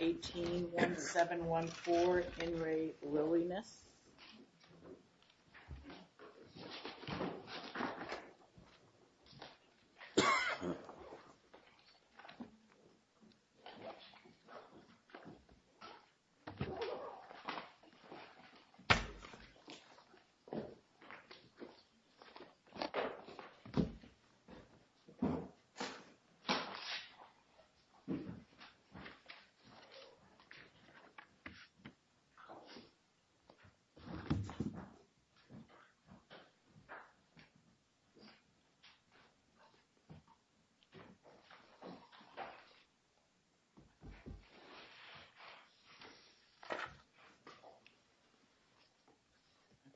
18-1714, In Re Lilliness.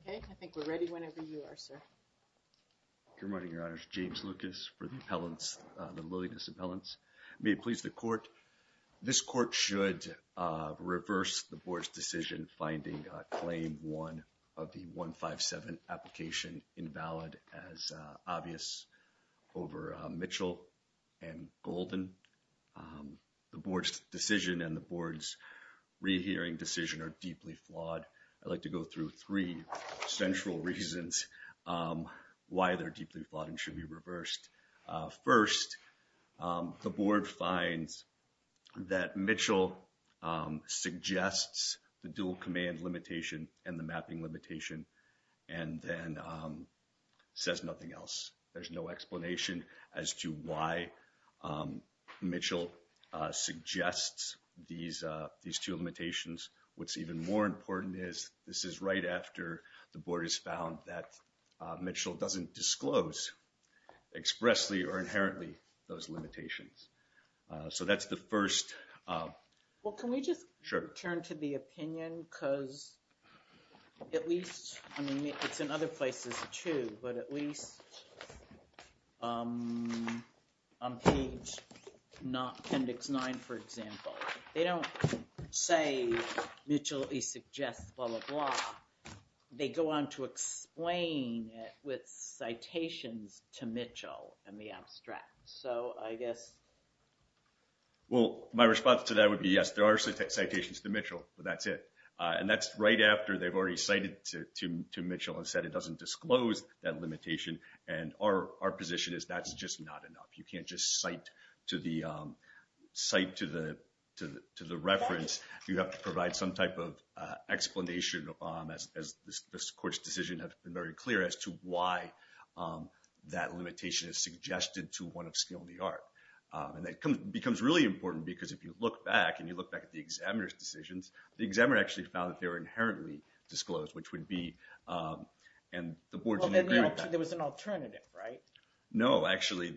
Okay, I think we're ready whenever you are, sir. Good morning, Your Honors. James Lucas for the appellants, the Lilliness appellants. May it please the court. This court should reverse the board's decision finding claim one of the 157 application invalid as obvious over Mitchell and Golden. The board's decision and the board's rehearing decision are deeply flawed. I'd like to go through three central reasons why they're deeply flawed and should be reversed. First, the board finds that Mitchell suggests the dual command limitation and the mapping limitation and then says nothing else. There's no explanation as to why Mitchell suggests these two limitations. What's even more important is this is right after the board has found that Mitchell doesn't disclose expressly or inherently those limitations. So that's the first. Well, can we just turn to the opinion because at least, I mean, it's in other places too, but at least on page not appendix nine, for example, they don't say Mitchell suggests blah, blah, blah. They go on to explain it with citations to Mitchell and the abstract. So I guess. Well, my response to that would be yes, there are citations to Mitchell, but that's it. And that's right after they've already cited to Mitchell and said it doesn't disclose that limitation. And our position is that's just not enough. You can't just cite to the reference. You have to provide some type of explanation as this court's decision has been very clear as to why that limitation is suggested to one of skill in the art. And that becomes really important because if you look back and you look back at the examiner's decisions, the examiner actually found that they were inherently disclosed, which would be and the board didn't agree with that. There was an alternative, right? No, actually,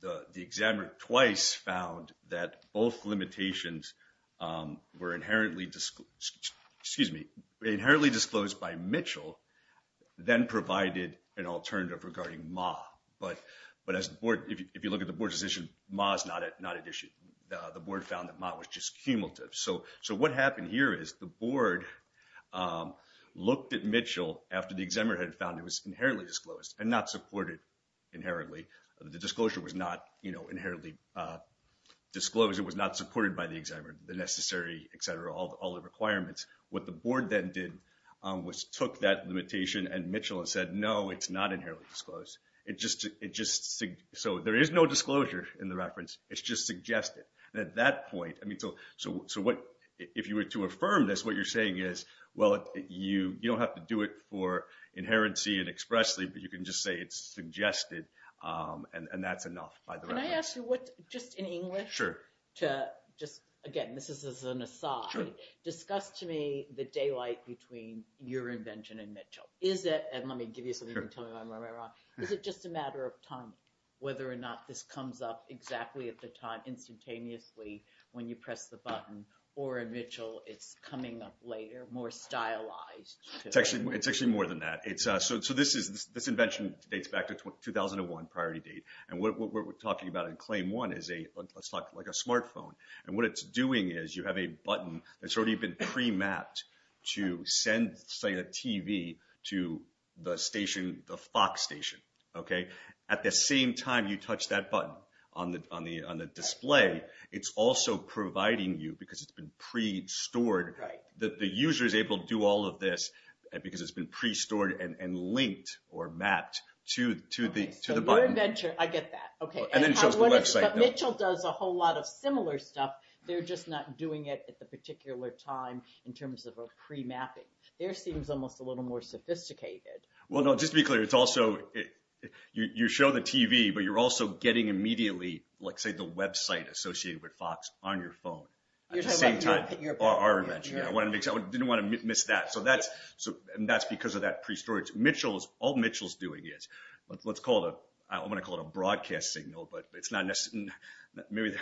the examiner twice found that both limitations were inherently disclosed, excuse me, inherently disclosed by Mitchell, then provided an alternative regarding Ma. But, but as the board, if you look at the board's decision, Ma's not at issue. The board found that Ma was just cumulative. So what happened here is the board looked at Mitchell after the examiner had found it was inherently disclosed and not supported inherently. The disclosure was not inherently disclosed. It was not supported by the examiner, the necessary, et cetera, all the requirements. What the board then did was took that limitation and Mitchell and said, no, it's not inherently disclosed. It just, so there is no disclosure in the reference. It's just suggested. And at that point, I mean, so what, if you were to affirm this, what you're saying is, well, you don't have to do it for inherency and expressly, but you can just say it's suggested. And that's enough. Can I ask you what, just in English? Sure. To just, again, this is an aside. Sure. Discuss to me the daylight between your invention and Mitchell. Is it, and let me give you something you can tell me if I'm wrong, is it just a matter of time, whether or not this comes up exactly at the time, instantaneously, when you press the button, or in Mitchell, it's coming up later, more stylized? It's actually more than that. So this invention dates back to 2001, priority date. And what we're talking about in claim one is a, let's talk like a smartphone. And what it's doing is you have a button that's already been pre-mapped to send, say, a TV to the station, the Fox station, okay? At the same time you touch that button on the display, it's also providing you, because it's been pre-stored, that the user's able to do all of this because it's been pre-stored and linked or mapped to the button. Our invention, I get that, okay. And then it shows the website. But Mitchell does a whole lot of similar stuff, they're just not doing it at the particular time in terms of a pre-mapping. Theirs seems almost a little more sophisticated. Well, no, just to be clear, it's also, you show the TV, but you're also getting immediately, like, say, the website associated with Fox on your phone. At the same time. You're talking about our invention. Our invention, yeah. I didn't want to miss that. So that's because of that pre-storage. All Mitchell's doing is, let's call it, I'm going to call it a broadcast signal, but it's not necessarily, maybe,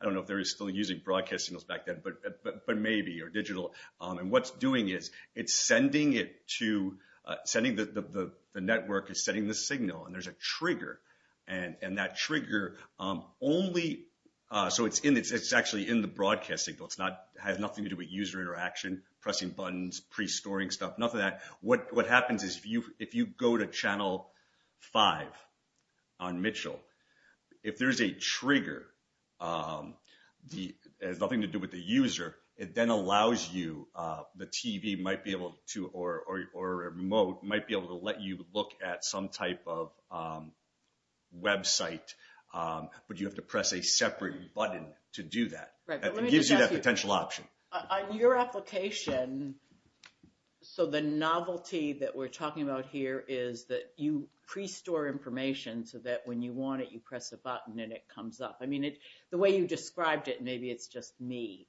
I don't know if they were still using broadcast signals back then, but maybe, or digital. And what it's doing is, it's sending it to, the network is sending the signal, and there's a trigger. And that trigger only, so it's actually in the broadcast signal. It has nothing to do with user interaction, pressing buttons, pre-storing stuff, nothing like that. What happens is, if you go to Channel 5 on Mitchell, if there's a trigger, it has nothing to do with the user. It then allows you, the TV might be able to, or a remote might be able to let you look at some type of website, but you have to press a separate button to do that. Right, but let me just ask you. It gives you that potential option. On your application, so the novelty that we're talking about here is that you pre-store information so that when you want it, you press a button and it comes up. I mean, the way you described it, maybe it's just me.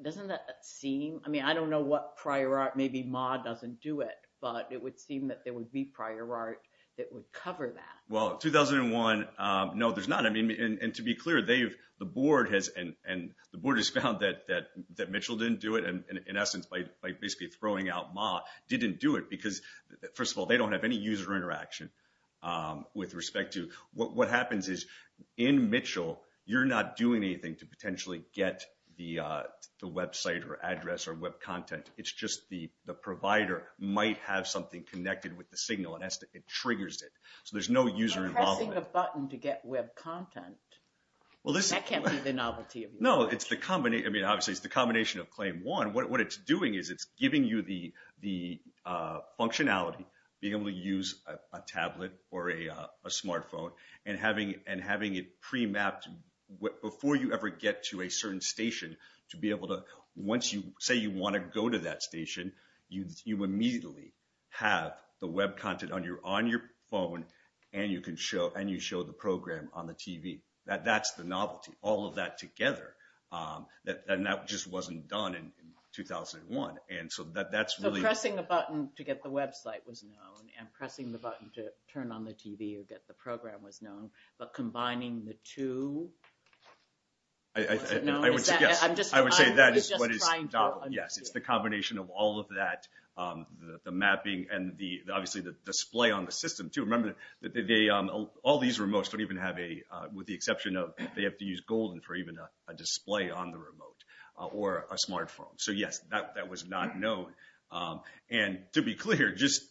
Doesn't that seem, I mean, I don't know what prior art, maybe Ma doesn't do it, but it would seem that there would be prior art that would cover that. Well, 2001, no, there's not. I mean, and to be clear, the board has found that Mitchell didn't do it, and in essence, by basically throwing out Ma, didn't do it because, first of all, they don't have any user interaction with respect to. What happens is, in Mitchell, you're not doing anything to potentially get the website or address or web content. It's just the provider might have something connected with the signal and it triggers it. So there's no user involvement. You're pressing a button to get web content. That can't be the novelty. No, it's the combination, I mean, obviously, it's the combination of claim one. What it's doing is it's giving you the functionality, being able to use a tablet or a smartphone, and having it pre-mapped before you ever get to a certain station to be able to, once you say you want to go to that station, you immediately have the web content on your phone. And you can show, and you show the program on the TV. That's the novelty. All of that together. And that just wasn't done in 2001. And so that's really... So pressing a button to get the website was known, and pressing the button to turn on the TV or get the program was known. But combining the two... I would say yes. I'm just trying to understand. Yes, it's the combination of all of that, the mapping and the, obviously, the display on the system, too. All these remotes don't even have a... With the exception of they have to use golden for even a display on the remote or a smartphone. So, yes, that was not known. And to be clear, just...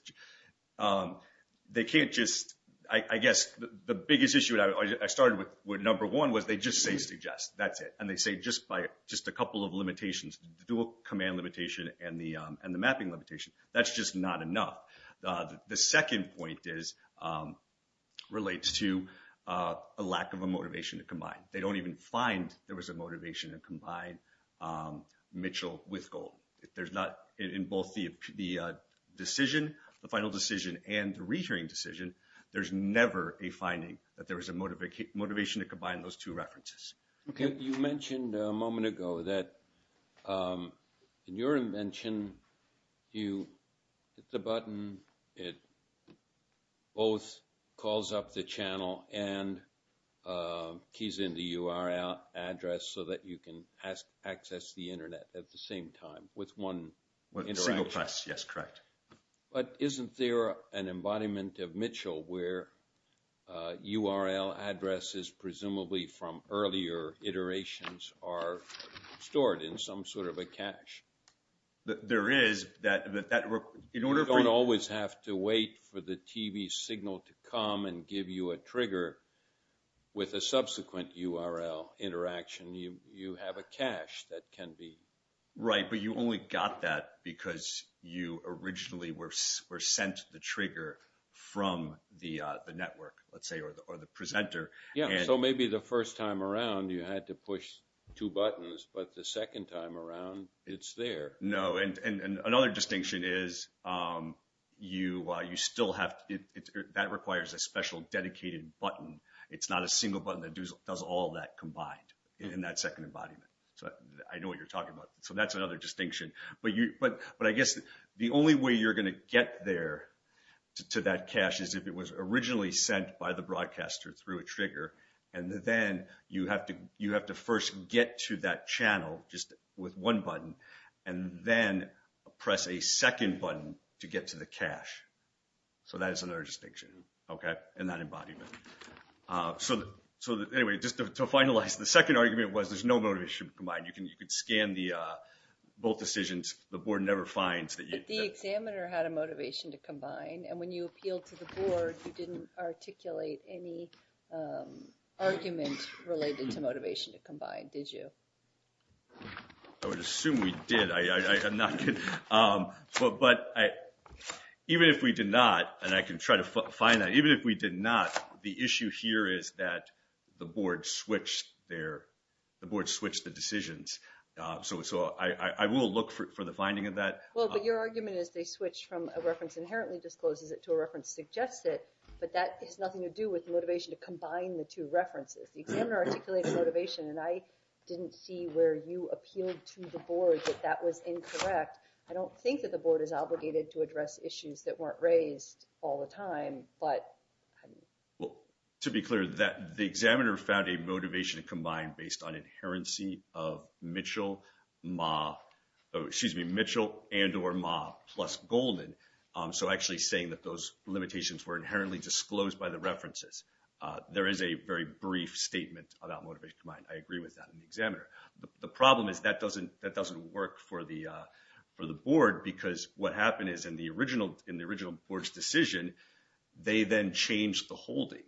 They can't just... I guess the biggest issue I started with number one was they just say suggest. That's it. And they say just by just a couple of limitations, the dual command limitation and the mapping limitation. That's just not enough. The second point relates to a lack of a motivation to combine. They don't even find there was a motivation to combine Mitchell with gold. There's not... In both the decision, the final decision, and the re-hearing decision, there's never a finding that there was a motivation to combine those two references. Okay. You mentioned a moment ago that in your invention, you hit the button. It both calls up the channel and keys in the URL address so that you can access the Internet at the same time with one interaction. Yes, correct. But isn't there an embodiment of Mitchell where URL addresses presumably from earlier iterations are stored in some sort of a cache? There is. You don't always have to wait for the TV signal to come and give you a trigger with a subsequent URL interaction. You have a cache that can be... Right, but you only got that because you originally were sent the trigger from the network, let's say, or the presenter. Yeah, so maybe the first time around, you had to push two buttons, but the second time around, it's there. No, and another distinction is you still have... That requires a special dedicated button. It's not a single button that does all that combined in that second embodiment. I know what you're talking about. So that's another distinction. But I guess the only way you're going to get there to that cache is if it was originally sent by the broadcaster through a trigger. And then you have to first get to that channel just with one button and then press a second button to get to the cache. So that is another distinction in that embodiment. So anyway, just to finalize, the second argument was there's no motivation to combine. You can scan both decisions. The board never finds that you... But the examiner had a motivation to combine. And when you appealed to the board, you didn't articulate any argument related to motivation to combine, did you? I would assume we did. I'm not kidding. But even if we did not, and I can try to find that, even if we did not, the issue here is that the board switched the decisions. So I will look for the finding of that. Well, but your argument is they switched from a reference inherently discloses it to a reference suggests it. But that has nothing to do with motivation to combine the two references. The examiner articulated motivation, and I didn't see where you appealed to the board that that was incorrect. I don't think that the board is obligated to address issues that weren't raised all the time, but... To be clear, the examiner found a motivation to combine based on inherency of Mitchell and or Ma plus Golden. So actually saying that those limitations were inherently disclosed by the references. There is a very brief statement about motivation to combine. I agree with that in the examiner. The problem is that doesn't work for the board because what happened is in the original board's decision, they then changed the holding.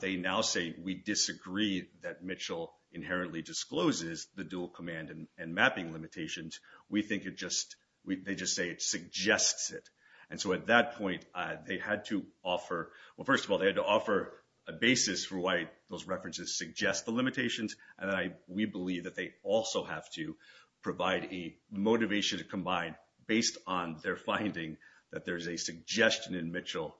They now say we disagree that Mitchell inherently discloses the dual command and mapping limitations. We think it just, they just say it suggests it. And so at that point, they had to offer, well, first of all, they had to offer a basis for why those references suggest the limitations. And we believe that they also have to provide a motivation to combine based on their finding that there's a suggestion in Mitchell.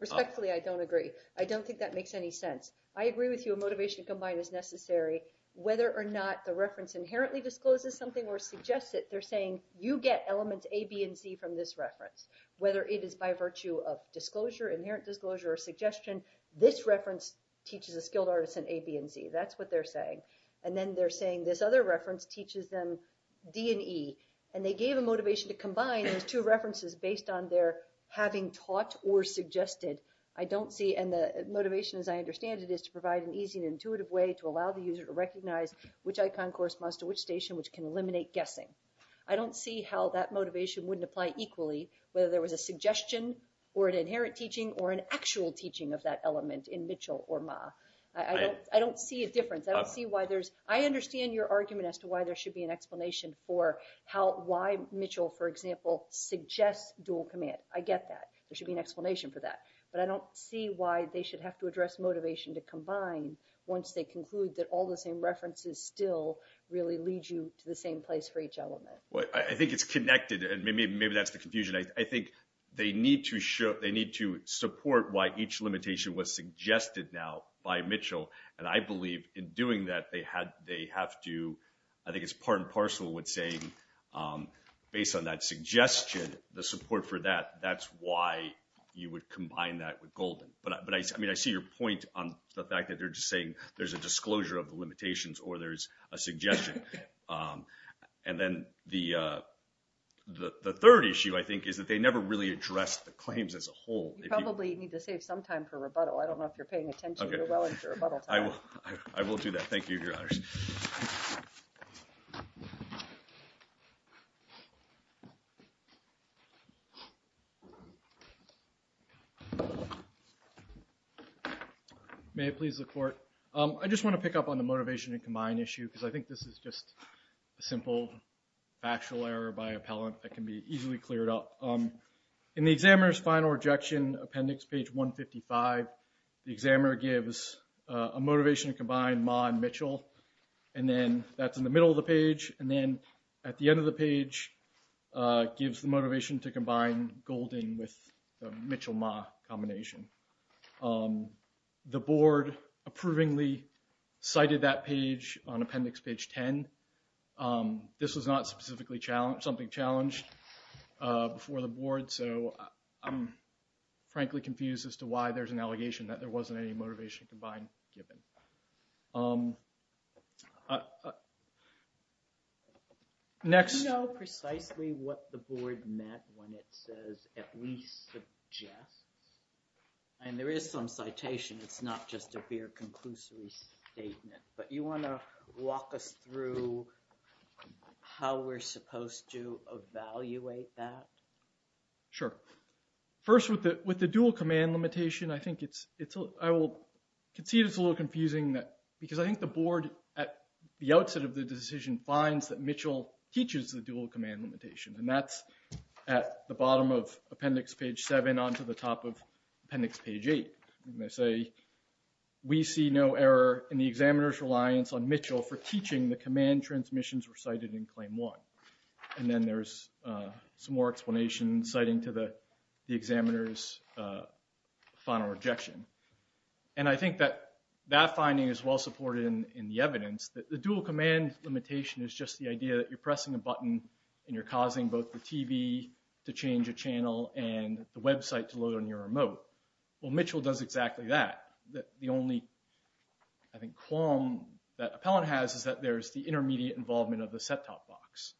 Respectfully, I don't agree. I don't think that makes any sense. I agree with you. A motivation to combine is necessary. Whether or not the reference inherently discloses something or suggests it, they're saying you get elements A, B, and C from this reference. Whether it is by virtue of disclosure, inherent disclosure, or suggestion, this reference teaches a skilled artist an A, B, and C. That's what they're saying. And then they're saying this other reference teaches them D and E. And they gave a motivation to combine those two references based on their having taught or suggested. I don't see, and the motivation, as I understand it, is to provide an easy and intuitive way to allow the user to recognize which icon corresponds to which station, which can eliminate guessing. I don't see how that motivation wouldn't apply equally whether there was a suggestion or an inherent teaching or an actual teaching of that element in Mitchell or Ma. I don't see a difference. I don't see why there's, I understand your argument as to why there should be an explanation for how, why Mitchell, for example, suggests dual command. I get that. There should be an explanation for that. But I don't see why they should have to address motivation to combine once they conclude that all the same references still really lead you to the same place for each element. I think it's connected, and maybe that's the confusion. I think they need to support why each limitation was suggested now by Mitchell. And I believe in doing that, they have to, I think it's part and parcel with saying based on that suggestion, the support for that, that's why you would combine that with Golden. But I mean, I see your point on the fact that they're just saying there's a disclosure of the limitations or there's a suggestion. And then the third issue, I think, is that they never really addressed the claims as a whole. You probably need to save some time for rebuttal. I don't know if you're paying attention. You're well into rebuttal time. I will do that. Thank you, Your Honors. May I please look for it? I just want to pick up on the motivation to combine issue because I think this is just a simple factual error by appellant that can be easily cleared up. In the examiner's final rejection appendix, page 155, the examiner gives a motivation to combine Ma and Mitchell. And then that's in the middle of the page. And then at the end of the page, it gives the motivation to combine Golden with the Mitchell-Ma combination. The board approvingly cited that page on appendix page 10. This was not specifically challenged, something challenged before the board. So I'm frankly confused as to why there's an allegation that there wasn't any motivation to combine given. Do you know precisely what the board meant when it says, at least suggests? And there is some citation. It's not just a mere conclusory statement. But you want to walk us through how we're supposed to evaluate that? Sure. First, with the dual command limitation, I think it's, I will concede it's a little confusing because I think the board at the outset of the decision finds that Mitchell teaches the dual command limitation. And that's at the bottom of appendix page seven onto the top of appendix page eight. And they say, we see no error in the examiner's reliance on Mitchell for teaching the command transmissions recited in claim one. And then there's some more explanation citing to the examiner's final rejection. And I think that that finding is well supported in the evidence that the dual command limitation is just the idea that you're pressing a button and you're causing both the TV to change a channel and the website to load on your remote. Well, Mitchell does exactly that. The only, I think, qualm that Appellant has is that there's the intermediate involvement of the set-top box.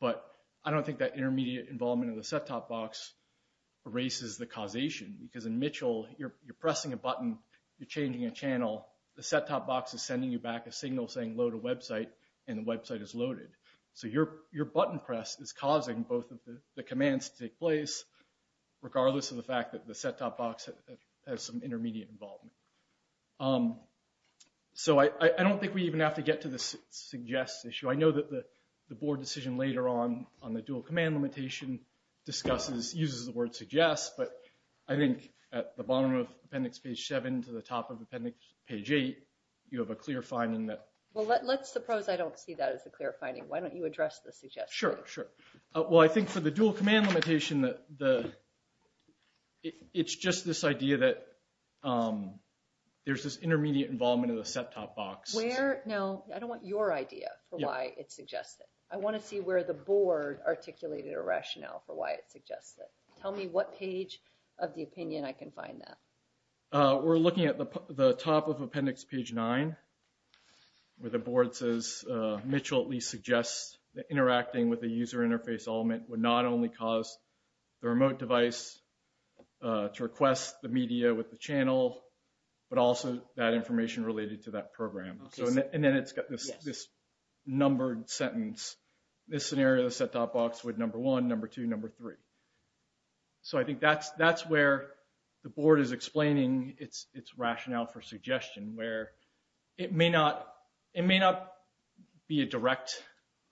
But I don't think that intermediate involvement of the set-top box erases the causation. Because in Mitchell, you're pressing a button, you're changing a channel, the set-top box is sending you back a signal saying load a website, and the website is loaded. So your button press is causing both of the commands to take place, regardless of the fact that the set-top box has some intermediate involvement. So I don't think we even have to get to the suggest issue. I know that the board decision later on, on the dual command limitation, discusses, uses the word suggest. But I think at the bottom of appendix page seven to the top of appendix page eight, you have a clear finding that. Well, let's suppose I don't see that as a clear finding. Why don't you address the suggest issue? Sure, sure. Well, I think for the dual command limitation, it's just this idea that there's this intermediate involvement of the set-top box. Where? No, I don't want your idea for why it's suggested. I want to see where the board articulated a rationale for why it suggests it. Tell me what page of the opinion I can find that. We're looking at the top of appendix page nine, where the board says, Mitchell at least suggests that interacting with the user interface element would not only cause the remote device to request the media with the channel, but also that information related to that program. And then it's got this numbered sentence. This scenario, the set-top box would number one, number two, number three. So I think that's where the board is explaining its rationale for suggestion, where it may not be a direct,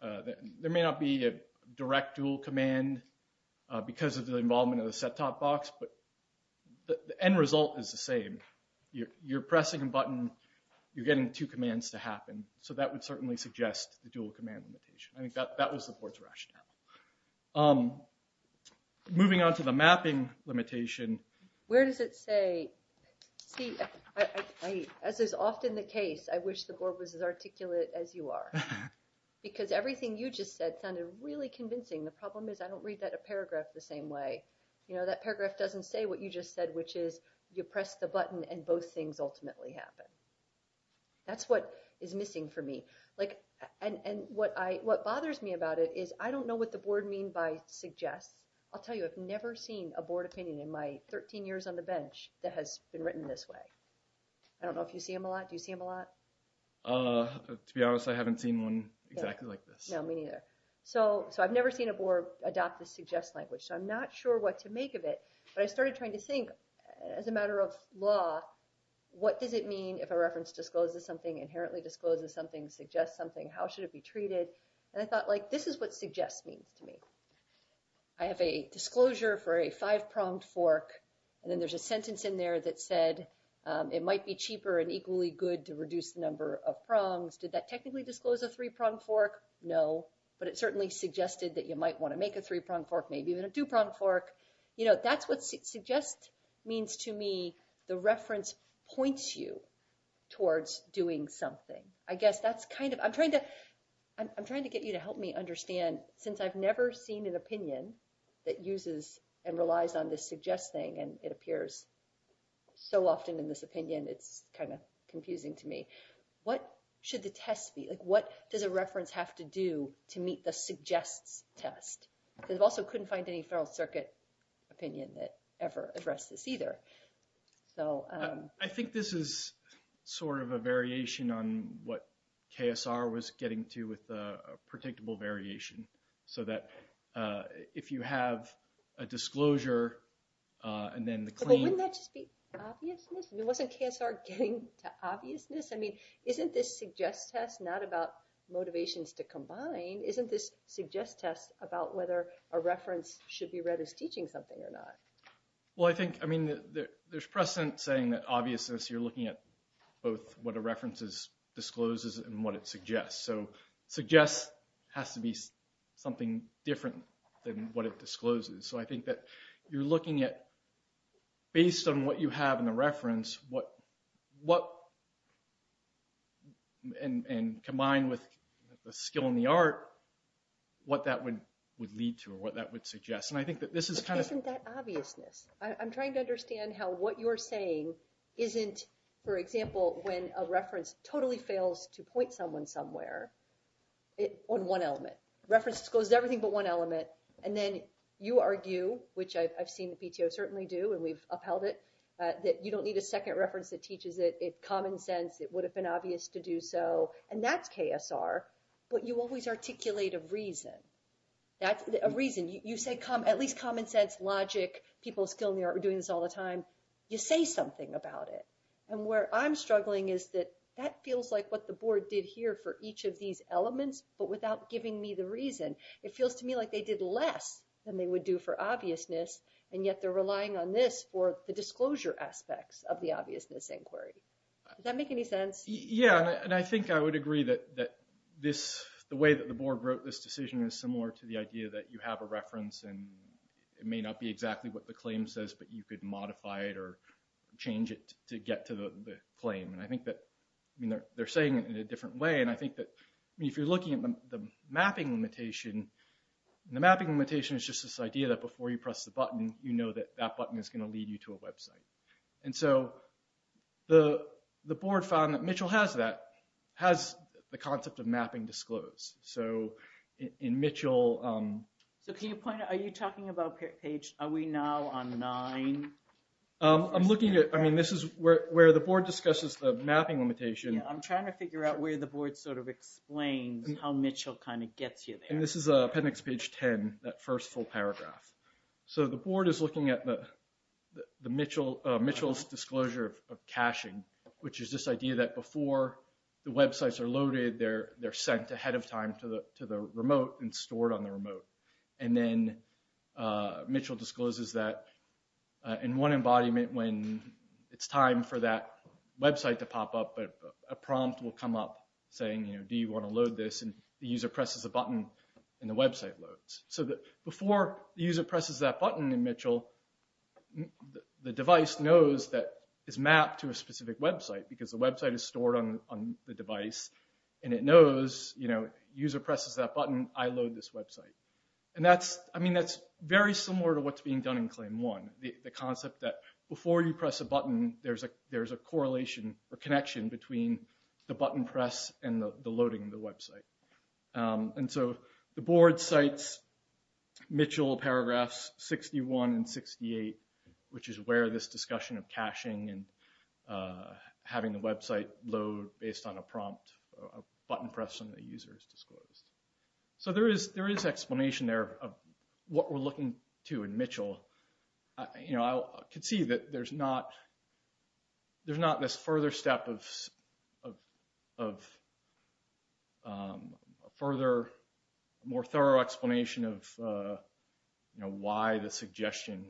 there may not be a direct dual command because of the involvement of the set-top box, but the end result is the same. You're pressing a button. You're getting two commands to happen. So that would certainly suggest the dual command limitation. I think that was the board's rationale. Moving on to the mapping limitation. Where does it say, as is often the case, I wish the board was as articulate as you are. Because everything you just said sounded really convincing. The problem is I don't read that paragraph the same way. That paragraph doesn't say what you just said, which is you press the button and both things ultimately happen. That's what is missing for me. What bothers me about it is I don't know what the board means by suggest. I'll tell you, I've never seen a board opinion in my 13 years on the bench that has been written this way. I don't know if you see them a lot. Do you see them a lot? To be honest, I haven't seen one exactly like this. No, me neither. So I've never seen a board adopt the suggest language, so I'm not sure what to make of it. But I started trying to think, as a matter of law, what does it mean if a reference discloses something, inherently discloses something, suggests something? How should it be treated? And I thought, like, this is what suggest means to me. I have a disclosure for a five-pronged fork. And then there's a sentence in there that said it might be cheaper and equally good to reduce the number of prongs. Did that technically disclose a three-pronged fork? No. But it certainly suggested that you might want to make a three-pronged fork, maybe even a two-pronged fork. You know, that's what suggest means to me. The reference points you towards doing something. I guess that's kind of, I'm trying to, I'm trying to get you to help me understand, since I've never seen an opinion that uses and relies on this suggest thing, and it appears so often in this opinion, it's kind of confusing to me. What should the test be? Like, what does a reference have to do to meet the suggests test? Because I also couldn't find any federal circuit opinion that ever addressed this either. So. I think this is sort of a variation on what KSR was getting to with a predictable variation. So that if you have a disclosure and then the claim. But wouldn't that just be obviousness? I mean, wasn't KSR getting to obviousness? I mean, isn't this suggest test not about motivations to combine? Isn't this suggest test about whether a reference should be read as teaching something or not? Well, I think, I mean, there's precedent saying that obviousness, you're looking at both what a reference discloses and what it suggests. So suggest has to be something different than what it discloses. So I think that you're looking at, based on what you have in the reference, and combined with the skill and the art, what that would lead to or what that would suggest. And I think that this is kind of. Isn't that obviousness? I'm trying to understand how what you're saying isn't, for example, when a reference totally fails to point someone somewhere on one element. Reference discloses everything but one element. And then you argue, which I've seen the PTO certainly do and we've upheld it, that you don't need a second reference that teaches it common sense. It would have been obvious to do so. And that's KSR. But you always articulate a reason. That's a reason. You say at least common sense, logic, people with skill and the art are doing this all the time. You say something about it. And where I'm struggling is that that feels like what the board did here for each of these elements, but without giving me the reason. It feels to me like they did less than they would do for obviousness, and yet they're relying on this for the disclosure aspects of the obviousness inquiry. Does that make any sense? Yeah, and I think I would agree that this, the way that the board wrote this decision is similar to the idea that you have a reference and it may not be exactly what the claim says, but you could modify it or change it to get to the claim. And I think that they're saying it in a different way. And I think that if you're looking at the mapping limitation, the mapping limitation is just this idea that before you press the button, you know that that button is going to lead you to a website. And so the board found that Mitchell has that, has the concept of mapping disclosed. So in Mitchell... So can you point out, are you talking about page, are we now on nine? I'm looking at, I mean, this is where the board discusses the mapping limitation. Yeah, I'm trying to figure out where the board sort of explains how Mitchell kind of gets you there. I mean, this is appendix page 10, that first full paragraph. So the board is looking at Mitchell's disclosure of caching, which is this idea that before the websites are loaded, they're sent ahead of time to the remote and stored on the remote. And then Mitchell discloses that in one embodiment when it's time for that website to pop up, a prompt will come up saying, you know, do you want to load this? And the user presses a button and the website loads. So before the user presses that button in Mitchell, the device knows that it's mapped to a specific website because the website is stored on the device. And it knows, you know, user presses that button, I load this website. And that's, I mean, that's very similar to what's being done in claim one. The concept that before you press a button, there's a correlation or connection between the button press and the loading of the website. And so the board cites Mitchell paragraphs 61 and 68, which is where this discussion of caching and having the website load based on a prompt, a button press and the user is disclosed. So there is explanation there of what we're looking to in Mitchell. You know, I could see that there's not, there's not this further step of further, more thorough explanation of, you know, why the suggestion,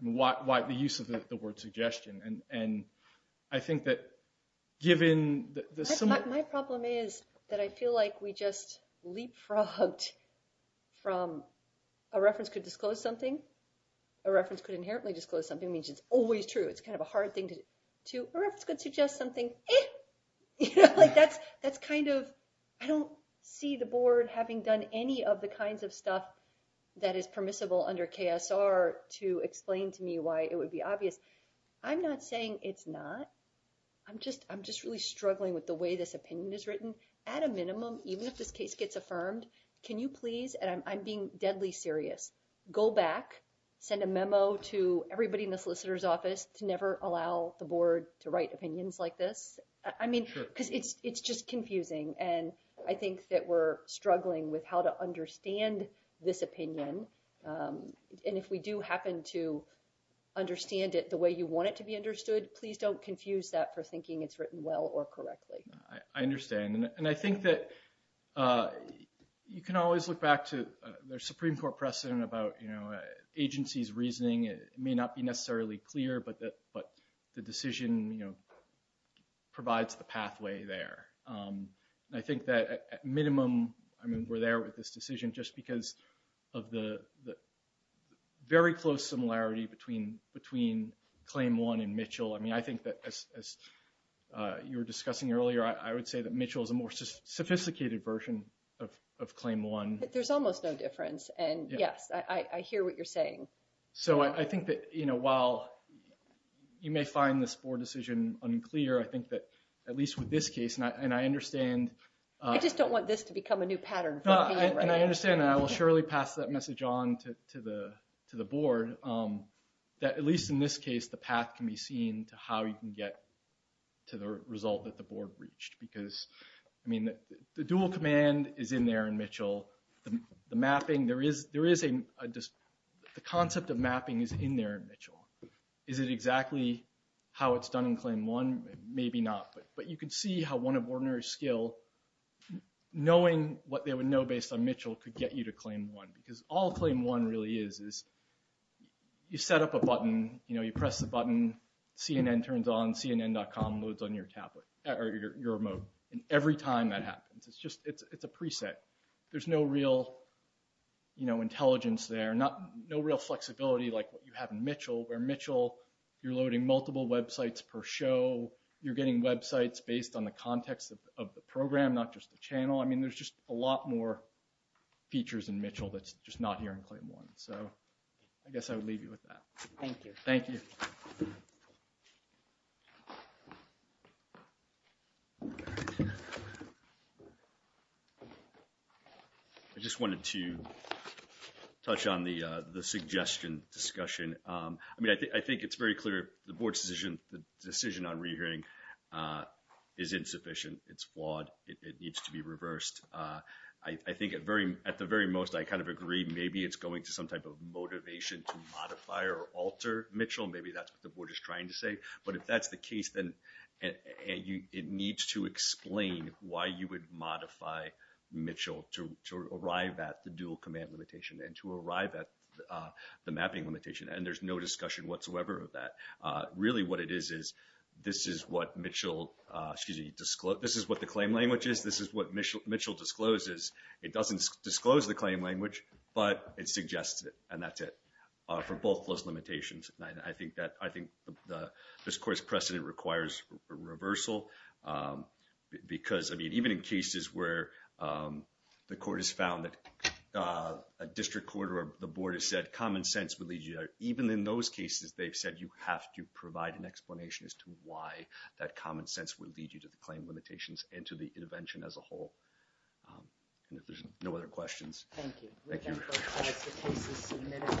why the use of the word suggestion. And I think that given the... My problem is that I feel like we just leapfrogged from a reference could disclose something. A reference could inherently disclose something means it's always true. It's kind of a hard thing to... A reference could suggest something. Like that's kind of, I don't see the board having done any of the kinds of stuff that is permissible under KSR to explain to me why it would be obvious. I'm not saying it's not. I'm just really struggling with the way this opinion is written. At a minimum, even if this case gets affirmed, can you please, and I'm being deadly serious, go back, send a memo to everybody in the solicitor's office to never allow the board to write opinions like this? I mean, because it's just confusing. And I think that we're struggling with how to understand this opinion. And if we do happen to understand it the way you want it to be understood, please don't confuse that for thinking it's written well or correctly. I understand. And I think that you can always look back to the Supreme Court precedent about agency's reasoning. It may not be necessarily clear, but the decision provides the pathway there. And I think that at minimum, I mean, we're there with this decision just because of the very close similarity between Claim 1 and Mitchell. I mean, I think that as you were discussing earlier, I would say that Mitchell is a more sophisticated version of Claim 1. But there's almost no difference. And, yes, I hear what you're saying. So I think that while you may find this board decision unclear, I think that at least with this case, and I understand. I just don't want this to become a new pattern for me. And I understand, and I will surely pass that message on to the board, that at least in this case, the path can be seen to how you can get to the result that the board reached. Because, I mean, the dual command is in there in Mitchell. The mapping, there is a – the concept of mapping is in there in Mitchell. Is it exactly how it's done in Claim 1? Maybe not. But you can see how one of ordinary skill, knowing what they would know based on Mitchell could get you to Claim 1. Because all Claim 1 really is, is you set up a button. You know, you press the button. CNN turns on. CNN.com loads on your tablet – or your remote. And every time that happens, it's just – it's a preset. There's no real, you know, intelligence there. No real flexibility like what you have in Mitchell, where Mitchell you're loading multiple websites per show. You're getting websites based on the context of the program, not just the channel. I mean, there's just a lot more features in Mitchell that's just not here in Claim 1. So I guess I would leave you with that. Thank you. Thank you. I just wanted to touch on the suggestion discussion. I mean, I think it's very clear the board's decision – the decision on rehearing is insufficient. It's flawed. It needs to be reversed. I think at the very most, I kind of agree. Maybe it's going to some type of motivation to modify or alter Mitchell. Maybe that's what the board is trying to say. But if that's the case, then it needs to explain why you would modify Mitchell to arrive at the dual command limitation and to arrive at the mapping limitation. And there's no discussion whatsoever of that. Really what it is is this is what Mitchell – excuse me – this is what the claim language is. This is what Mitchell discloses. It doesn't disclose the claim language, but it suggests it, and that's it for both those limitations. I think this court's precedent requires a reversal because, I mean, even in cases where the court has found that a district court or the board has said common sense would lead you there, even in those cases they've said you have to provide an explanation as to why that common sense would lead you to the claim limitations and to the intervention as a whole. If there's no other questions. Thank you.